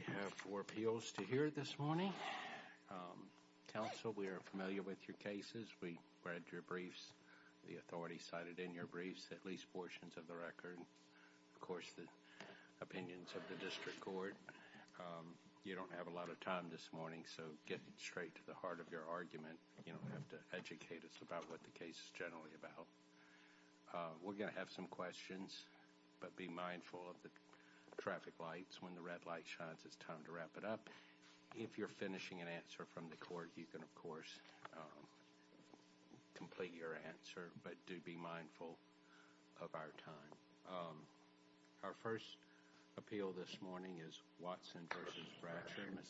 You have four appeals to hear this morning. Counsel, we are familiar with your cases. We read your briefs. The authority cited in your briefs, at least portions of the record. Of course, the opinions of the district court. You don't have a lot of time this morning, so get straight to the heart of your argument. You don't have to educate us about what the case is generally about. We're going to have some questions, but be mindful of the traffic lights. When the red light shines, it's time to wrap it up. If you're finishing an answer from the court, you can, of course, complete your answer. But do be mindful of our time. Our first appeal this morning is Watson v. Bradsher. Ms.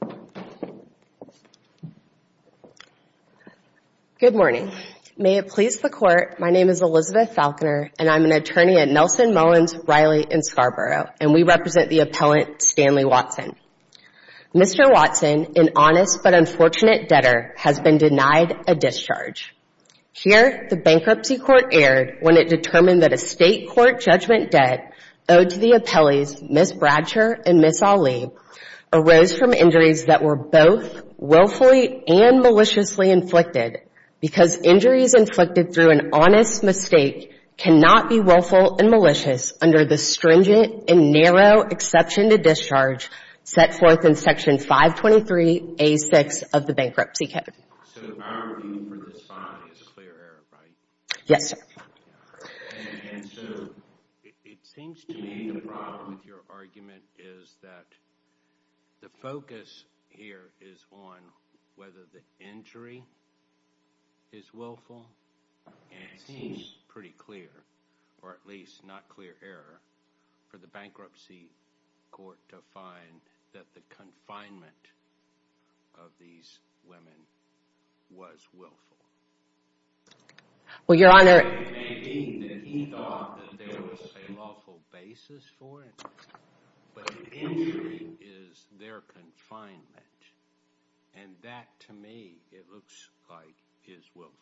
Falconer. Good morning. May it please the court, my name is Elizabeth Falconer, and I'm an attorney at Nelson, Mullins, Riley, and Scarborough. And we represent the appellant, Stanley Watson. Mr. Watson, an honest but unfortunate debtor, has been denied a discharge. Here, the bankruptcy court erred when it determined that a state court judgment debt owed to the appellees, Ms. Bradsher and Ms. Ali, arose from injuries that were both willfully and maliciously inflicted. Because injuries inflicted through an honest mistake cannot be willful and malicious under the stringent and narrow exception to discharge set forth in Section 523A6 of the Bankruptcy Code. So, our review for this fine is a clear error, right? Yes, sir. And so, it seems to me the problem with your argument is that the focus here is on whether the injury is willful, and it seems pretty clear, or at least not clear error, for the bankruptcy court to find that the confinement of these women was willful. Well, Your Honor... It may be that he thought there was a lawful basis for it, but the injury is their confinement. And that, to me, it looks like is willful.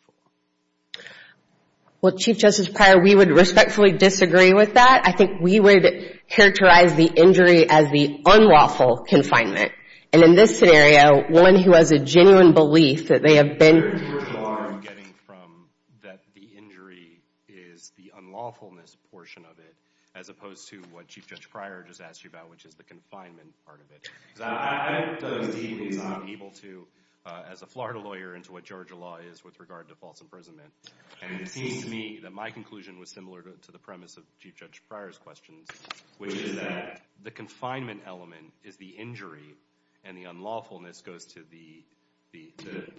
Well, Chief Justice Pryor, we would respectfully disagree with that. I think we would characterize the injury as the unlawful confinement. And in this scenario, one who has a genuine belief that they have been... You're too far getting from that the injury is the unlawfulness portion of it, as opposed to what Chief Justice Pryor just asked you about, which is the confinement part of it. Because I have done a deep exam, able to, as a Florida lawyer, into what Georgia law is with regard to false imprisonment. And it seems to me that my conclusion was similar to the premise of Chief Judge Pryor's questions, which is that the confinement element is the injury, and the unlawfulness goes to the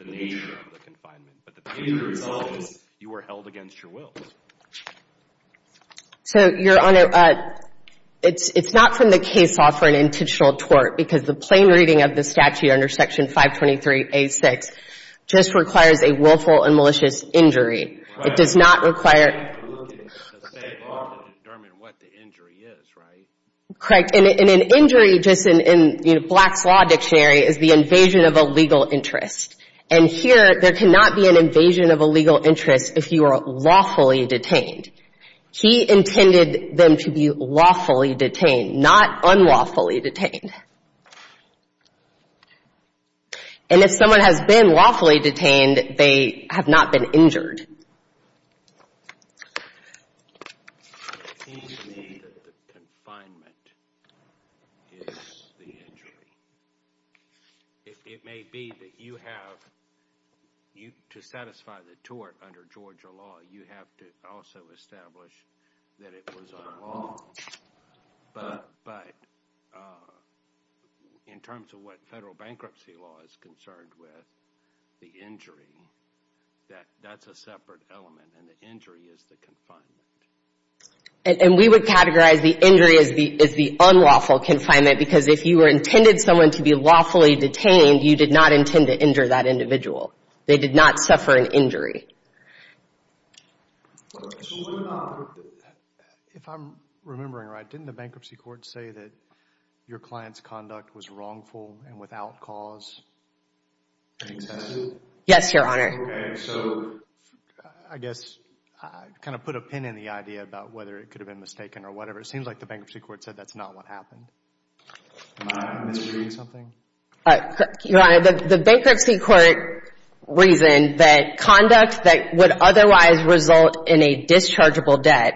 nature of the confinement. But the injury result is you were held against your will. So, Your Honor, it's not from the case law for an intentional tort, because the plain reading of the statute under Section 523A6 just requires a willful and malicious injury. It does not require... It's the same law to determine what the injury is, right? Correct. And an injury just in Black's Law Dictionary is the invasion of a legal interest. And here, there cannot be an invasion of a legal interest if you are lawfully detained. He intended them to be lawfully detained, not unlawfully detained. And if someone has been lawfully detained, they have not been injured. It seems to me that the confinement is the injury. It may be that you have... To satisfy the tort under Georgia law, you have to also establish that it was unlawful. But in terms of what federal bankruptcy law is concerned with, the injury, that's a separate element, and the injury is the confinement. And we would categorize the injury as the unlawful confinement, because if you intended someone to be lawfully detained, you did not intend to injure that individual. They did not suffer an injury. If I'm remembering right, didn't the bankruptcy court say that your client's conduct was wrongful and without cause? Yes, Your Honor. Okay, so... I guess I kind of put a pin in the idea about whether it could have been mistaken or whatever. It seems like the bankruptcy court said that's not what happened. Am I misreading something? Your Honor, the bankruptcy court reasoned that conduct that would otherwise result in a dischargeable debt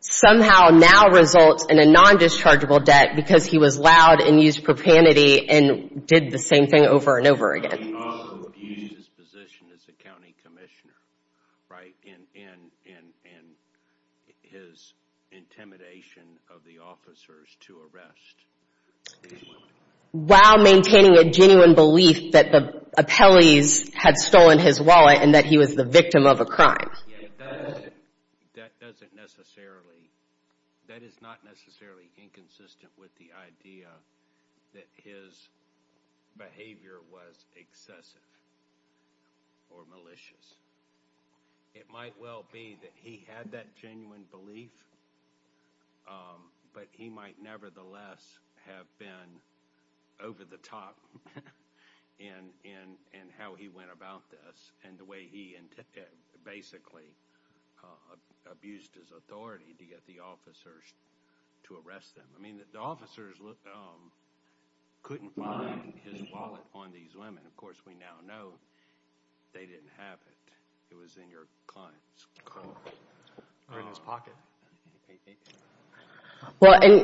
somehow now results in a non-dischargeable debt because he was loud and used propanity and did the same thing over and over again. He also abused his position as a county commissioner, right? And his intimidation of the officers to arrest. While maintaining a genuine belief that the appellees had stolen his wallet and that he was the victim of a crime. Yeah, that doesn't necessarily... That is not necessarily inconsistent with the idea that his behavior was excessive or malicious. It might well be that he had that genuine belief but he might nevertheless have been over the top in how he went about this and the way he basically abused his authority to get the officers to arrest them. I mean, the officers couldn't find his wallet on these women. Of course, we now know they didn't have it. It was in your client's pocket.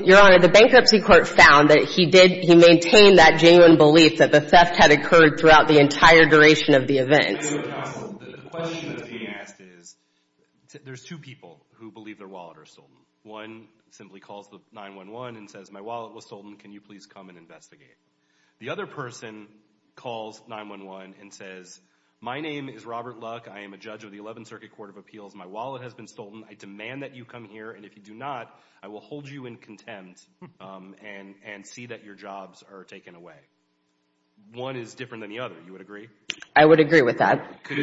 Your Honor, the bankruptcy court found that he maintained that genuine belief that the theft had occurred throughout the entire duration of the event. The question that's being asked is there's two people who believe their wallet was stolen. One simply calls the 911 and says, my wallet was stolen, can you please come and investigate? The other person calls 911 and says, my name is Robert Luck, I am a judge of the 11th Circuit Court of Appeals, my wallet has been stolen, I demand that you come here and if you do not, I will hold you in contempt and see that your jobs are taken away. One is different than the other, you would agree? I would agree with that. Is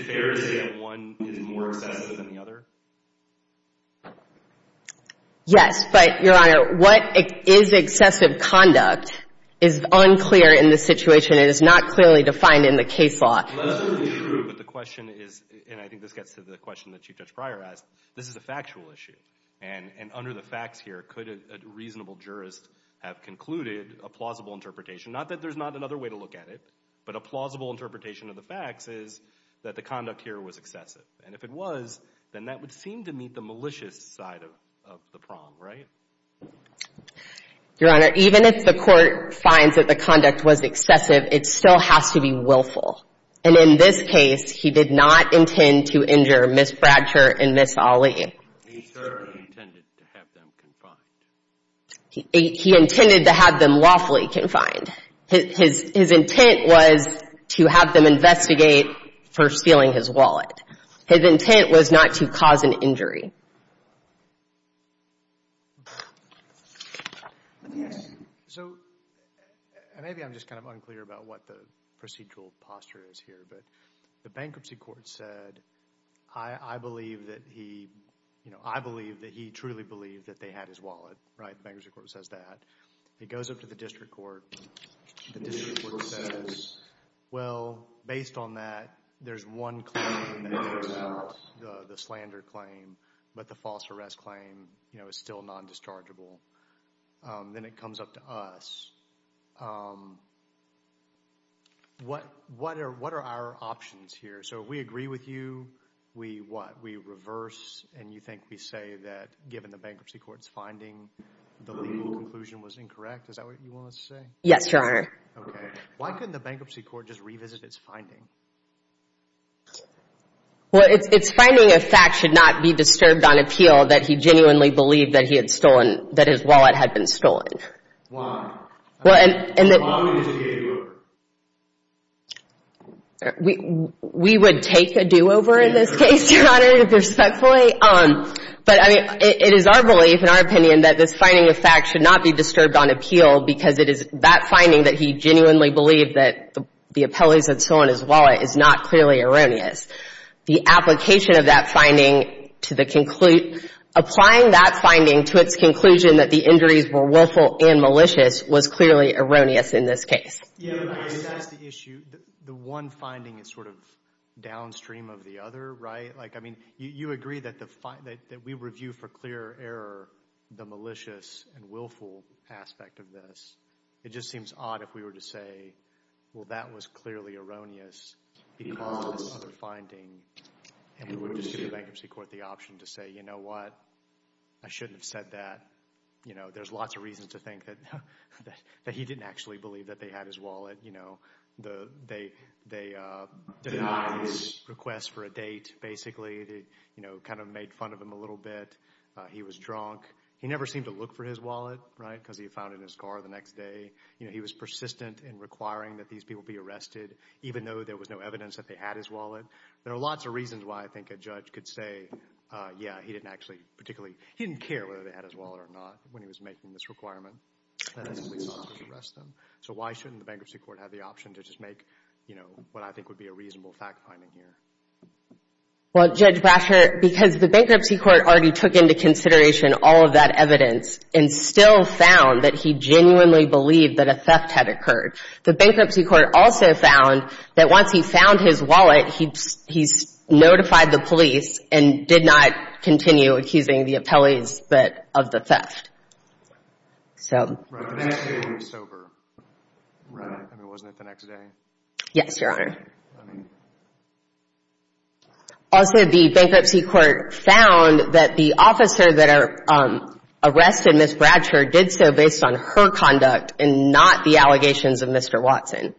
it fair to say that one is more excessive than the other? Yes, but Your Honor, what is excessive conduct is unclear in this situation. It is not clearly defined in the case law. But the question is, and I think this gets to the question that Chief Judge Pryor asked, this is a factual issue. And under the facts here, could a reasonable jurist have concluded a plausible interpretation? Not that there's not another way to look at it, but a plausible interpretation of the facts is that the conduct here was excessive. And if it was, then that would seem to meet the malicious side of the prong, right? Your Honor, even if the court finds that the conduct was excessive, it still has to be willful. And in this case, he did not intend to injure Ms. Bradsher and Ms. Ali. He intended to have them lawfully confined. His intent was to have them investigate for stealing his wallet. His intent was not to cause an injury. Yes. So maybe I'm just kind of unclear about what the procedural posture is here. But the bankruptcy court said, I believe that he truly believed that they had his wallet, right? The bankruptcy court says that. It goes up to the district court. The district court says, well, based on that, there's one claim that works out, the slander claim. But the false arrest claim is still non-dischargeable. Then it comes up to us. What are our options here? So we agree with you. We what? We reverse. And you think we say that given the bankruptcy court's finding, the legal conclusion was incorrect? Is that what you want us to say? Yes, Your Honor. Okay. Why couldn't the bankruptcy court just revisit its finding? Well, its finding of fact should not be disturbed on appeal that he genuinely believed that he had stolen, that his wallet had been stolen. Why? Why wouldn't it be a do-over? We would take a do-over in this case, Your Honor, respectfully. But, I mean, it is our belief, in our opinion, that this finding of fact should not be disturbed on appeal because it is that finding that he genuinely believed that the appellee had stolen his wallet is not clearly erroneous. The application of that finding to the conclusion, applying that finding to its conclusion that the injuries were willful and malicious was clearly erroneous in this case. Yes, Your Honor, and that's the issue. The one finding is sort of downstream of the other, right? Like, I mean, you agree that we review for clear error the malicious and willful aspect of this. It just seems odd if we were to say, well, that was clearly erroneous because of this other finding, and we would just give the bankruptcy court the option to say, you know what, I shouldn't have said that. You know, there's lots of reasons to think that he didn't actually believe that they had his wallet. You know, they denied his request for a date, basically. You know, kind of made fun of him a little bit. He was drunk. He never seemed to look for his wallet, right, because he found it in his car the next day. You know, he was persistent in requiring that these people be arrested, even though there was no evidence that they had his wallet. There are lots of reasons why I think a judge could say, yeah, he didn't actually particularly, he didn't care whether they had his wallet or not when he was making this requirement. So why shouldn't the bankruptcy court have the option to just make, you know, what I think would be a reasonable fact-finding here? Well, Judge Brasher, because the bankruptcy court already took into consideration all of that evidence and still found that he genuinely believed that a theft had occurred. The bankruptcy court also found that once he found his wallet, he notified the police and did not continue accusing the appellees of the theft. So... The next day he was sober, right? I mean, wasn't it the next day? Yes, Your Honor. Also, the bankruptcy court found that the officer that arrested Ms. Brasher did so based on her conduct and not the allegations of Mr. Watson.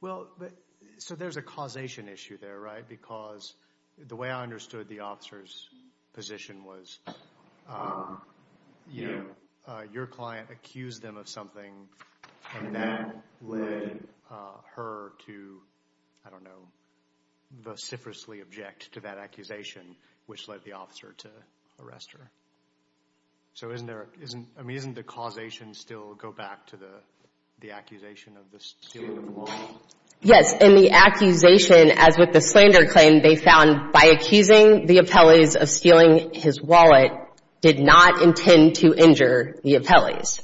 Well, so there's a causation issue there, right? Because the way I understood the officer's position was, you know, your client accused them of something and that led her to, I don't know, vociferously object to that accusation, which led the officer to arrest her. So isn't the causation still go back to the accusation of the stealing of the wallet? Yes, and the accusation, as with the slander claim, they found by accusing the appellees of stealing his wallet did not intend to injure the appellees.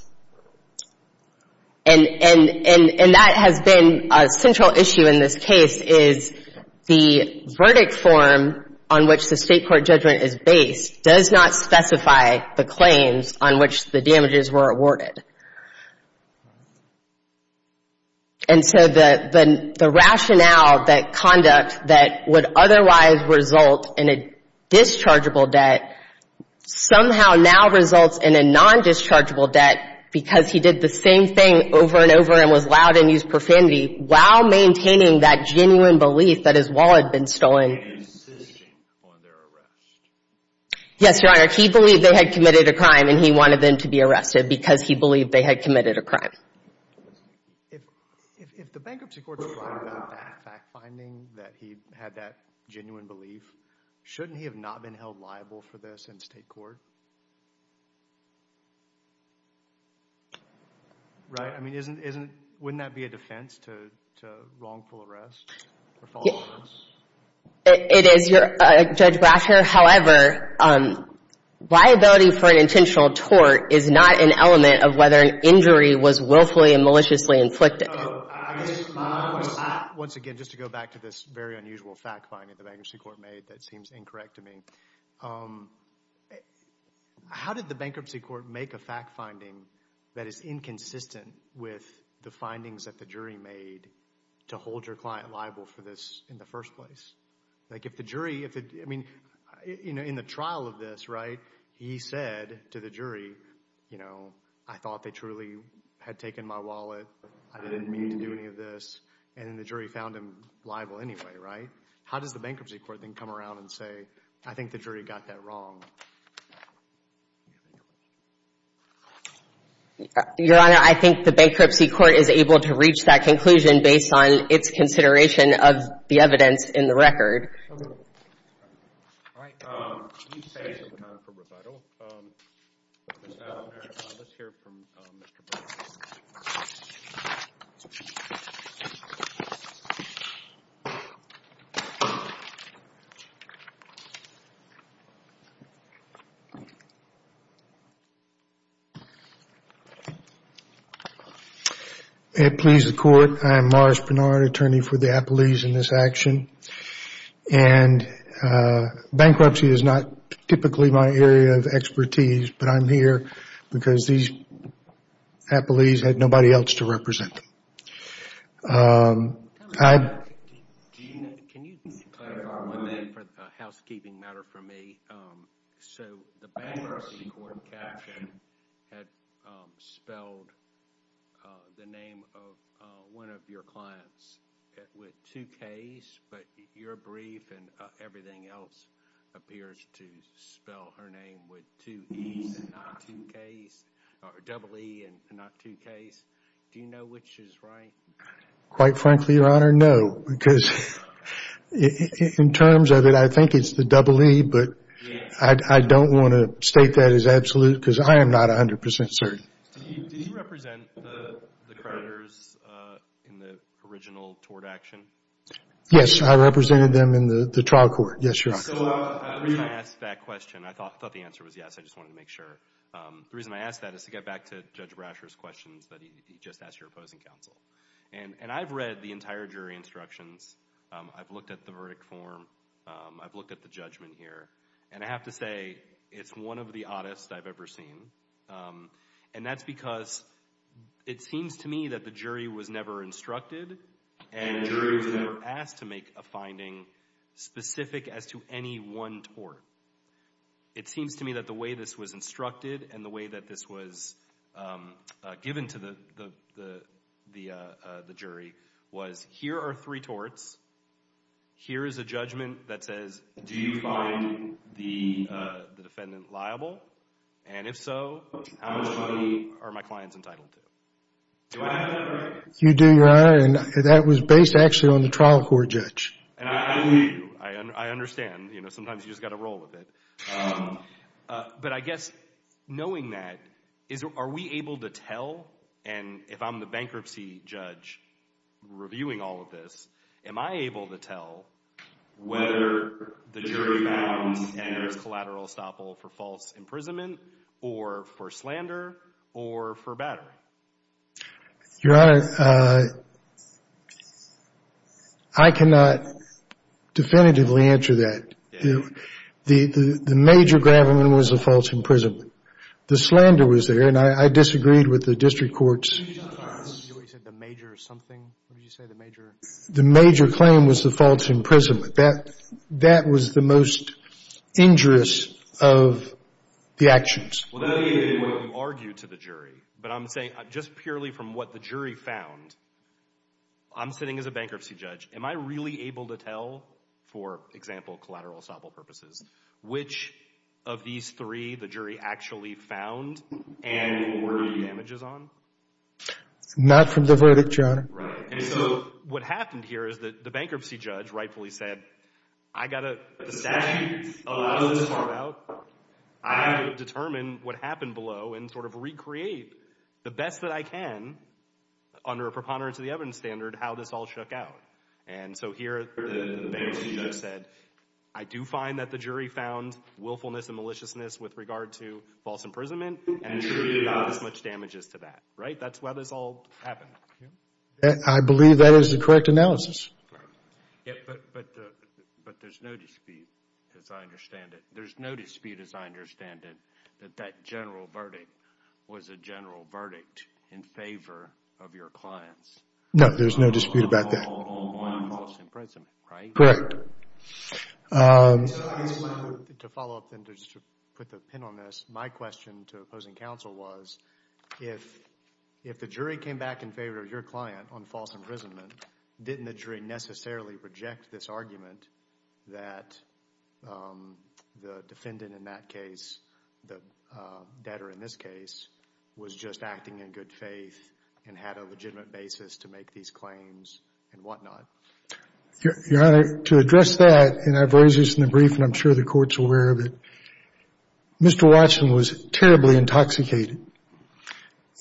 And that has been a central issue in this case is the verdict form on which the state court judgment is based does not specify the claims on which the damages were awarded. And so the rationale, that conduct, that would otherwise result in a dischargeable debt somehow now results in a non-dischargeable debt because he did the same thing over and over and was allowed to use profanity while maintaining that genuine belief that his wallet had been stolen. And insisting on their arrest. Yes, Your Honor, he believed they had committed a crime and he wanted them to be arrested because he believed they had committed a crime. If the bankruptcy court's right about that fact-finding that he had that genuine belief, shouldn't he have not been held liable for this in state court? Right? I mean, wouldn't that be a defense to wrongful arrest? It is, Judge Brasher. However, liability for an intentional tort is not an element of whether an injury was willfully and maliciously inflicted. Once again, just to go back to this very unusual fact-finding that the bankruptcy court made that seems incorrect to me. How did the bankruptcy court make a fact-finding that is inconsistent with the findings that the jury made to hold your client liable for this in the first place? Like if the jury, I mean, in the trial of this, right, he said to the jury, you know, I thought they truly had taken my wallet. I didn't mean to do any of this. And then the jury found him liable anyway, right? How does the bankruptcy court then come around and say, I think the jury got that wrong? Your Honor, I think the bankruptcy court is able to reach that conclusion based on its consideration of the evidence in the record. Okay. All right. You say it's time for rebuttal. Let's hear from Mr. Brasher. Thank you, Your Honor. May it please the Court, I am Morris Barnard, attorney for the Applees in this action. And bankruptcy is not typically my area of expertise, but I'm here because these Applees had nobody else to represent them. Can you clarify one thing for the housekeeping matter for me? So the bankruptcy court action had spelled the name of one of your clients with two K's, but your brief and everything else appears to spell her name with two E's and not two K's, or double E and not two K's. Do you know which is right? Quite frankly, Your Honor, no. Because in terms of it, I think it's the double E, but I don't want to state that as absolute because I am not 100% certain. Did you represent the creditors in the original tort action? Yes, I represented them in the trial court. Yes, Your Honor. So the reason I asked that question, I thought the answer was yes, I just wanted to make sure. The reason I asked that is to get back to Judge Brasher's questions that he just asked your opposing counsel, and I've read the entire jury instructions. I've looked at the verdict form. I've looked at the judgment here, and I have to say it's one of the oddest I've ever seen, and that's because it seems to me that the jury was never instructed and the jury was never asked to make a finding specific as to any one tort. It seems to me that the way this was instructed and the way that this was given to the jury was here are three torts. Here is a judgment that says, do you find the defendant liable? And if so, how much money are my clients entitled to? Do I have that right? You do, Your Honor, and that was based actually on the trial court judge. And I believe you. I understand. Sometimes you've just got to roll with it. But I guess knowing that, are we able to tell, and if I'm the bankruptcy judge reviewing all of this, am I able to tell whether the jury found and there's collateral estoppel for false imprisonment or for slander or for battery? Your Honor, I cannot definitively answer that. The major gravamen was the false imprisonment. The slander was there, and I disagreed with the district courts. You said the major something? What did you say, the major? The major claim was the false imprisonment. That was the most injurious of the actions. Well, that may be the way you argue to the jury, but I'm saying just purely from what the jury found, I'm sitting as a bankruptcy judge. Am I really able to tell, for example, collateral estoppel purposes, which of these three the jury actually found and what were the damages on? Not from the verdict, Your Honor. Right. And so what happened here is that the bankruptcy judge rightfully said, I got a statute allowing this to come out. I'm going to determine what happened below and sort of recreate the best that I can under a preponderance of the evidence standard how this all shook out. And so here the bankruptcy judge said, I do find that the jury found willfulness and maliciousness with regard to false imprisonment and truly not as much damages to that. Right? That's why this all happened. I believe that is the correct analysis. But there's no dispute, as I understand it. There's no dispute, as I understand it, that that general verdict was a general verdict in favor of your clients. No, there's no dispute about that. On false imprisonment, right? Correct. To follow up and just to put the pin on this, my question to opposing counsel was, if the jury came back in favor of your client on false imprisonment, didn't the jury necessarily reject this argument that the defendant in that case, the debtor in this case, was just acting in good faith and had a legitimate basis to make these claims and whatnot? Your Honor, to address that, and I've raised this in the brief and I'm sure the court's aware of it, Mr. Watson was terribly intoxicated.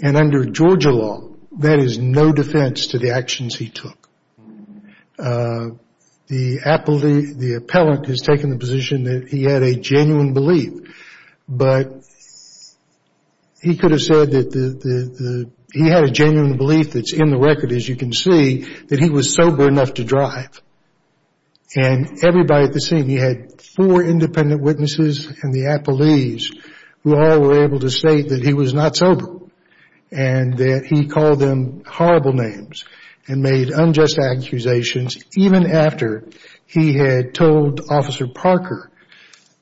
And under Georgia law, that is no defense to the actions he took. The appellant has taken the position that he had a genuine belief. But he could have said that he had a genuine belief that's in the record, as you can see, that he was sober enough to drive. And everybody at the scene, he had four independent witnesses and the appellees who all were able to state that he was not sober and that he called them horrible names and made unjust accusations, even after he had told Officer Parker,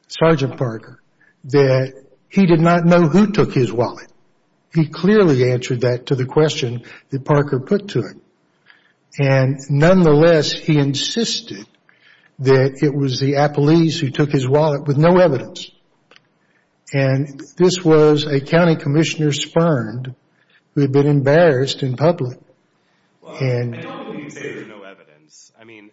Sergeant Parker, that he did not know who took his wallet. He clearly answered that to the question that Parker put to him. And nonetheless, he insisted that it was the appellees who took his wallet with no evidence. And this was a county commissioner spurned who had been embarrassed in public. Well, I don't believe he said there's no evidence. I mean,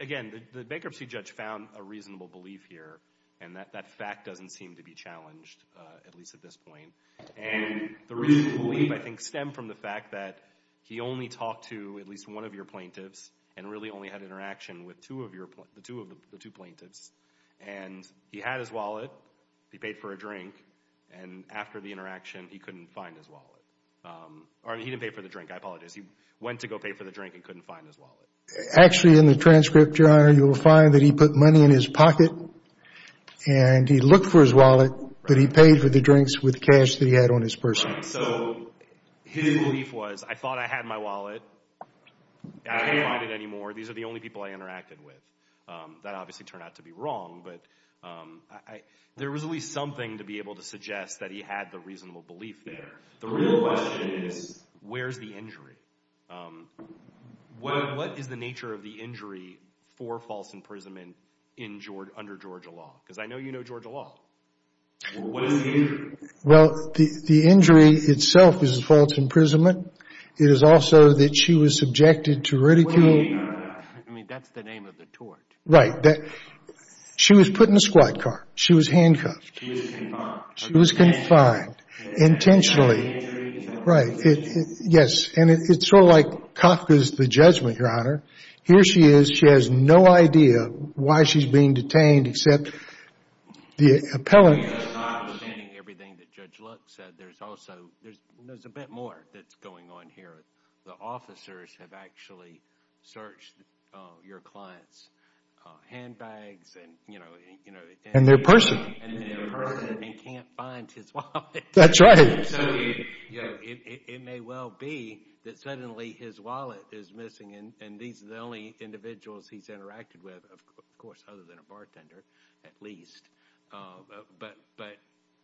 again, the bankruptcy judge found a reasonable belief here. And that fact doesn't seem to be challenged, at least at this point. And the reasonable belief, I think, stemmed from the fact that he only talked to at least one of your plaintiffs and really only had interaction with the two plaintiffs. And he had his wallet. He paid for a drink. And after the interaction, he couldn't find his wallet. Or he didn't pay for the drink. I apologize. He went to go pay for the drink and couldn't find his wallet. Actually, in the transcript, Your Honor, you will find that he put money in his pocket and he looked for his wallet, but he paid for the drinks with cash that he had on his purse. So his belief was, I thought I had my wallet. I can't find it anymore. These are the only people I interacted with. That obviously turned out to be wrong, but there was at least something to be able to suggest that he had the reasonable belief there. The real question is, where's the injury? What is the nature of the injury for false imprisonment under Georgia law? Because I know you know Georgia law. What is the injury? Well, the injury itself is false imprisonment. It is also that she was subjected to ridicule. I mean, that's the name of the tort. Right. She was put in a squad car. She was handcuffed. She was confined. Intentionally. Right. Yes. And it's sort of like Kafka's The Judgment, Your Honor. Here she is. She has no idea why she's being detained except the appellant. Everything that Judge Luck said, there's also a bit more that's going on here. The officers have actually searched your client's handbags and their purse and can't find his wallet. That's right. It may well be that suddenly his wallet is missing and these are the only individuals he's interacted with, of course, other than a bartender at least. But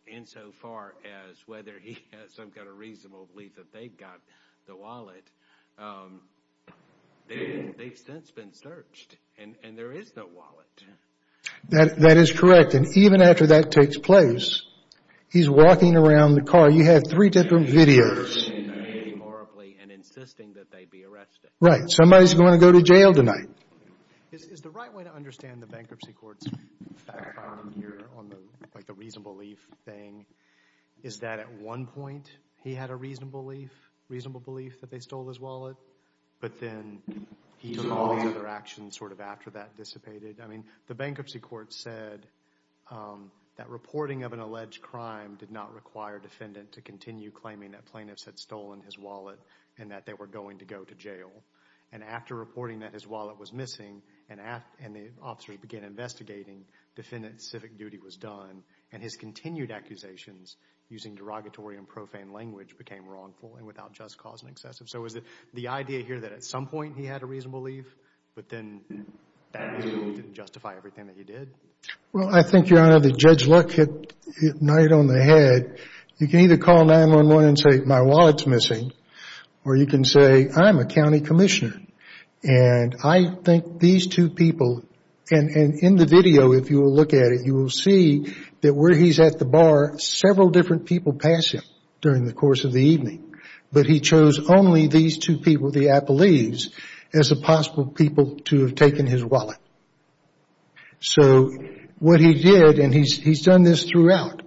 insofar as whether he has some kind of reasonable belief that they've got the wallet, they've since been searched and there is no wallet. That is correct. And even after that takes place, he's walking around the car. You have three different videos. And insisting that they be arrested. Right. Somebody's going to go to jail tonight. Is the right way to understand the bankruptcy court's fact-finding here on the reasonable belief thing is that at one point he had a reasonable belief that they stole his wallet, but then he took all the other actions sort of after that dissipated. I mean, the bankruptcy court said that reporting of an alleged crime did not require a defendant to continue claiming that plaintiffs had stolen his wallet and that they were going to go to jail. And after reporting that his wallet was missing and the officers began investigating, defendant's civic duty was done and his continued accusations using derogatory and profane language became wrongful and without just cause and excessive. So is it the idea here that at some point he had a reasonable belief, but then that reasonable belief didn't justify everything that he did? Well, I think, Your Honor, that Judge Luck hit it right on the head. You can either call 911 and say, my wallet's missing. Or you can say, I'm a county commissioner. And I think these two people, and in the video, if you will look at it, you will see that where he's at the bar, several different people pass him during the course of the evening. But he chose only these two people, the Applees, as the possible people to have taken his wallet. So what he did, and he's done this throughout,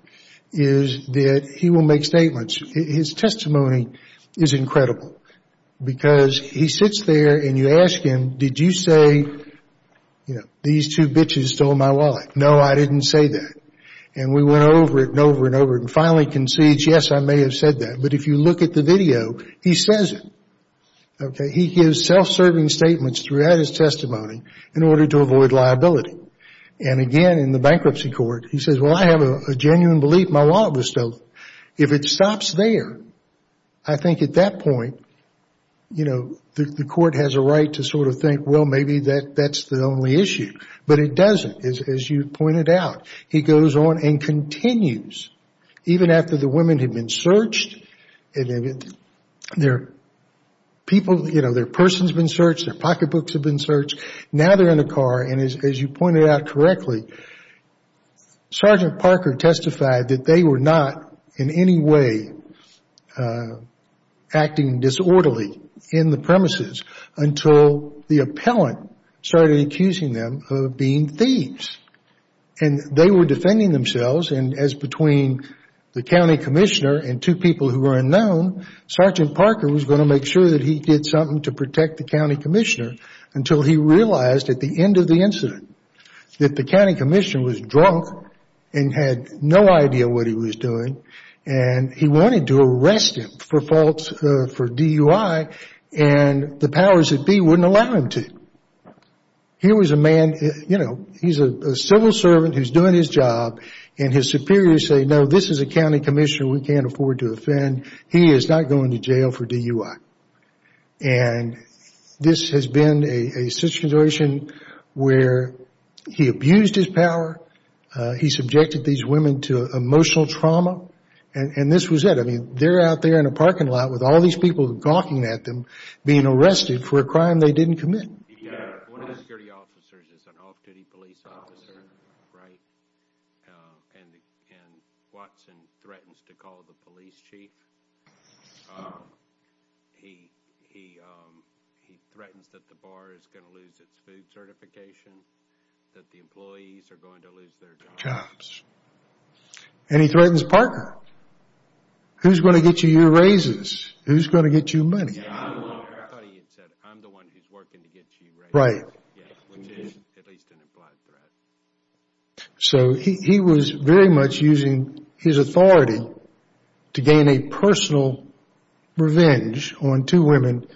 is that he will make statements. His testimony is incredible because he sits there and you ask him, did you say these two bitches stole my wallet? No, I didn't say that. And we went over it and over and over and finally concedes, yes, I may have said that. But if you look at the video, he says it. Okay, he gives self-serving statements throughout his testimony in order to avoid liability. And again, in the bankruptcy court, he says, well, I have a genuine belief my wallet was stolen. If it stops there, I think at that point, you know, the court has a right to sort of think, well, maybe that's the only issue. But it doesn't, as you pointed out. He goes on and continues, even after the women had been searched, their person's been searched, their pocketbooks have been searched, now they're in a car. And as you pointed out correctly, Sergeant Parker testified that they were not in any way acting disorderly in the premises until the appellant started accusing them of being thieves. And they were defending themselves as between the county commissioner and two people who were unknown, Sergeant Parker was going to make sure that he did something to protect the county commissioner until he realized at the end of the incident that the county commissioner was drunk and had no idea what he was doing and he wanted to arrest him for DUI and the powers that be wouldn't allow him to. Here was a man, you know, he's a civil servant who's doing his job and his superiors say, no, this is a county commissioner we can't afford to offend. He is not going to jail for DUI. And this has been a situation where he abused his power, he subjected these women to emotional trauma, and this was it. I mean, they're out there in a parking lot with all these people gawking at them, being arrested for a crime they didn't commit. One of the security officers is an off-duty police officer, right? And Watson threatens to call the police chief. He threatens that the bar is going to lose its food certification, that the employees are going to lose their jobs. And he threatens Parker. Who's going to get you your raises? Who's going to get you money? I thought he had said, I'm the one who's working to get you raises. Right. Which is at least an implied threat. So he was very much using his authority to gain a personal revenge on two women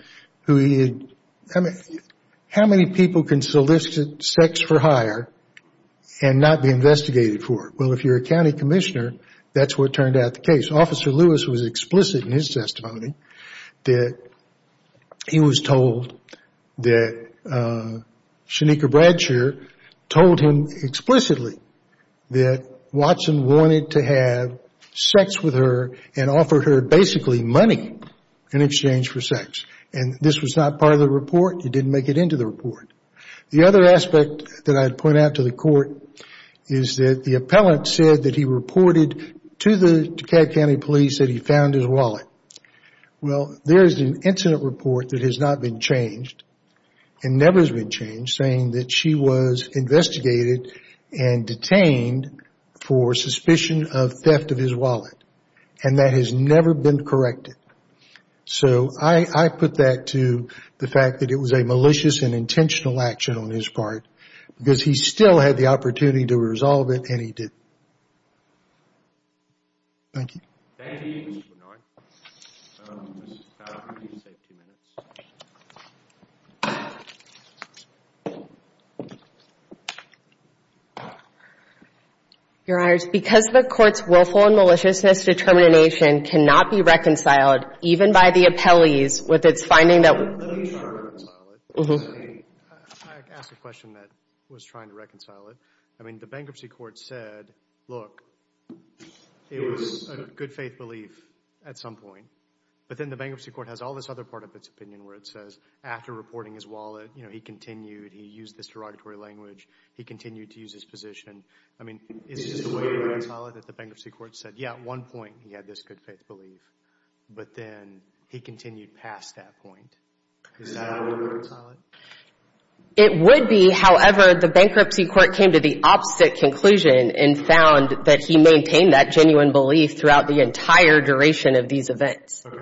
who he had... How many people can solicit sex for hire and not be investigated for it? Well, if you're a county commissioner, that's what turned out the case. Officer Lewis was explicit in his testimony that he was told that Shanika Bradshir told him explicitly that Watson wanted to have sex with her and offer her basically money in exchange for sex. And this was not part of the report. It didn't make it into the report. The other aspect that I'd point out to the court is that the appellant said that he reported to the Dekalb County Police that he found his wallet. Well, there is an incident report that has not been changed and never has been changed saying that she was investigated and detained for suspicion of theft of his wallet. And that has never been corrected. So I put that to the fact that it was a malicious and intentional action on his part because he still had the opportunity to resolve it and he didn't. Thank you. Thank you, Mr. Bernard. Just a couple of safety minutes. Your Honors, because the court's willful and maliciousness determination cannot be reconciled even by the appellees with its finding that... I'm not trying to reconcile it. I asked a question that was trying to reconcile it. I mean, the bankruptcy court said, look, it was a good faith belief at some point. But then the bankruptcy court has all this other part of its opinion where it says after reporting his wallet, you know, he continued, he used this derogatory language, he continued to use his position. I mean, is this a way to reconcile it that the bankruptcy court said, yeah, at one point he had this good faith belief, but then he continued past that point? Is that a way to reconcile it? It would be. However, the bankruptcy court came to the opposite conclusion and found that he maintained that genuine belief throughout the entire duration of these events. Sorry,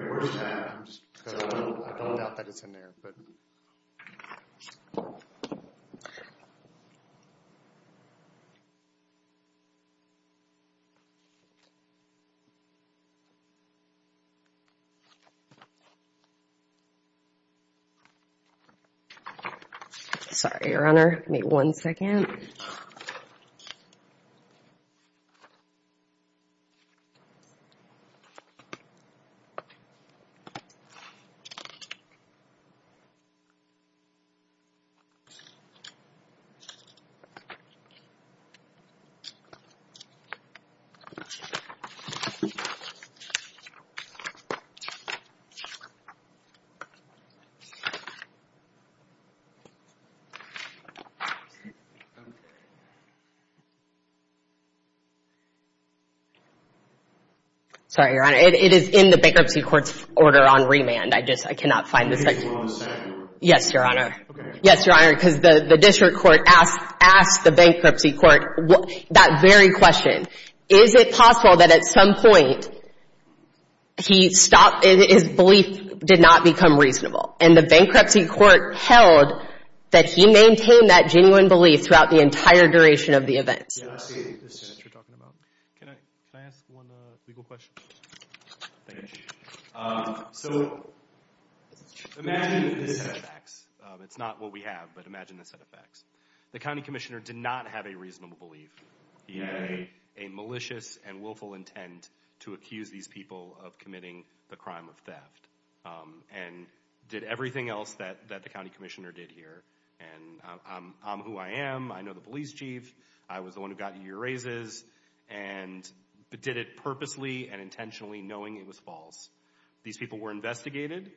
Your Honor. Give me one second. Okay. Sorry, Your Honor. It is in the bankruptcy court's order on remand. I just, I cannot find the... Give me one second. Yes, Your Honor. Okay. Yes, Your Honor, because the district court asked the bankruptcy court that very question. Is it possible that at some point he stopped, his belief did not become reasonable? And the bankruptcy court held that he maintained that genuine belief throughout the entire duration of the events. Yeah, I see what you're talking about. Can I ask one legal question? Thank you. So, imagine this set of facts. It's not what we have, but imagine this set of facts. The county commissioner did not have a reasonable belief. He had a malicious and willful intent to accuse these people of committing the crime of theft and did everything else that the county commissioner did here. And I'm who I am. I know the police chief. I was the one who got your raises and did it purposely and intentionally knowing it was false. These people were investigated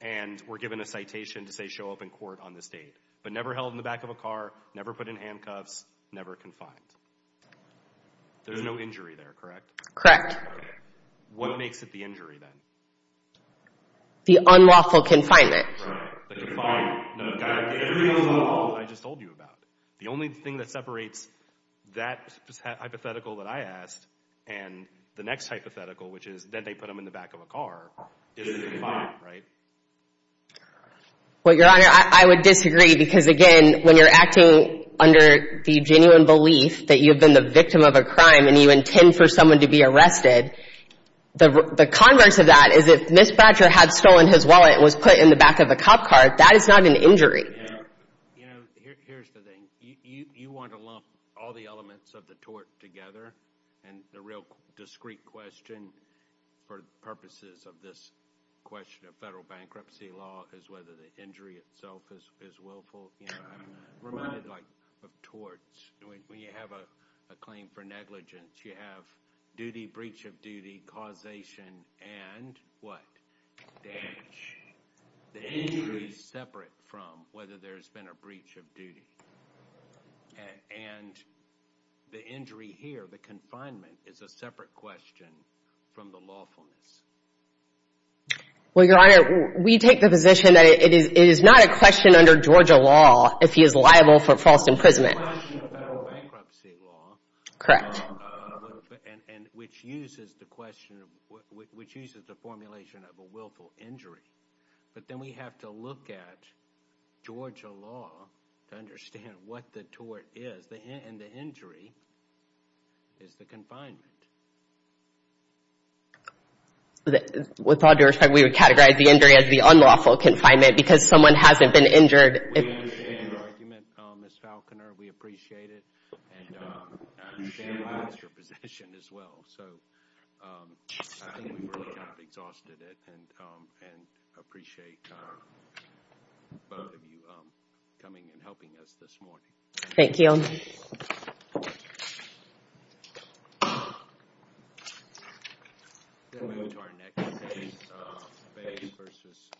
and were given a citation to say show up in court on this date, but never held in the back of a car, never put in handcuffs, never confined. There's no injury there, correct? Correct. What makes it the injury then? The unlawful confinement. Right. The confinement. The only thing that separates that hypothetical that I asked and the next hypothetical, which is that they put them in the back of a car, is the confinement, right? Well, Your Honor, I would disagree because, again, when you're acting under the genuine belief that you've been the victim of a crime and you intend for someone to be arrested, the converse of that is if this badger had stolen his wallet and was put in the back of a cop car, that is not an injury. You know, here's the thing. You want to lump all the elements of the tort together, and the real discrete question for purposes of this question of federal bankruptcy law is whether the injury itself is willful. I'm reminded of torts. When you have a claim for negligence, you have duty, breach of duty, causation, and what? Damage. Damage. The injury is separate from whether there's been a breach of duty. And the injury here, the confinement, is a separate question from the lawfulness. Well, Your Honor, we take the position that it is not a question under Georgia law if he is liable for false imprisonment. It's a question of federal bankruptcy law. Correct. And which uses the formulation of a willful injury. But then we have to look at Georgia law to understand what the tort is. And the injury is the confinement. With all due respect, we would categorize the injury as the unlawful confinement because someone hasn't been injured. We understand your argument, Ms. Falconer. We appreciate it. And we understand your position as well. So I think we've really exhausted it and appreciate both of you coming and helping us this morning. Thank you.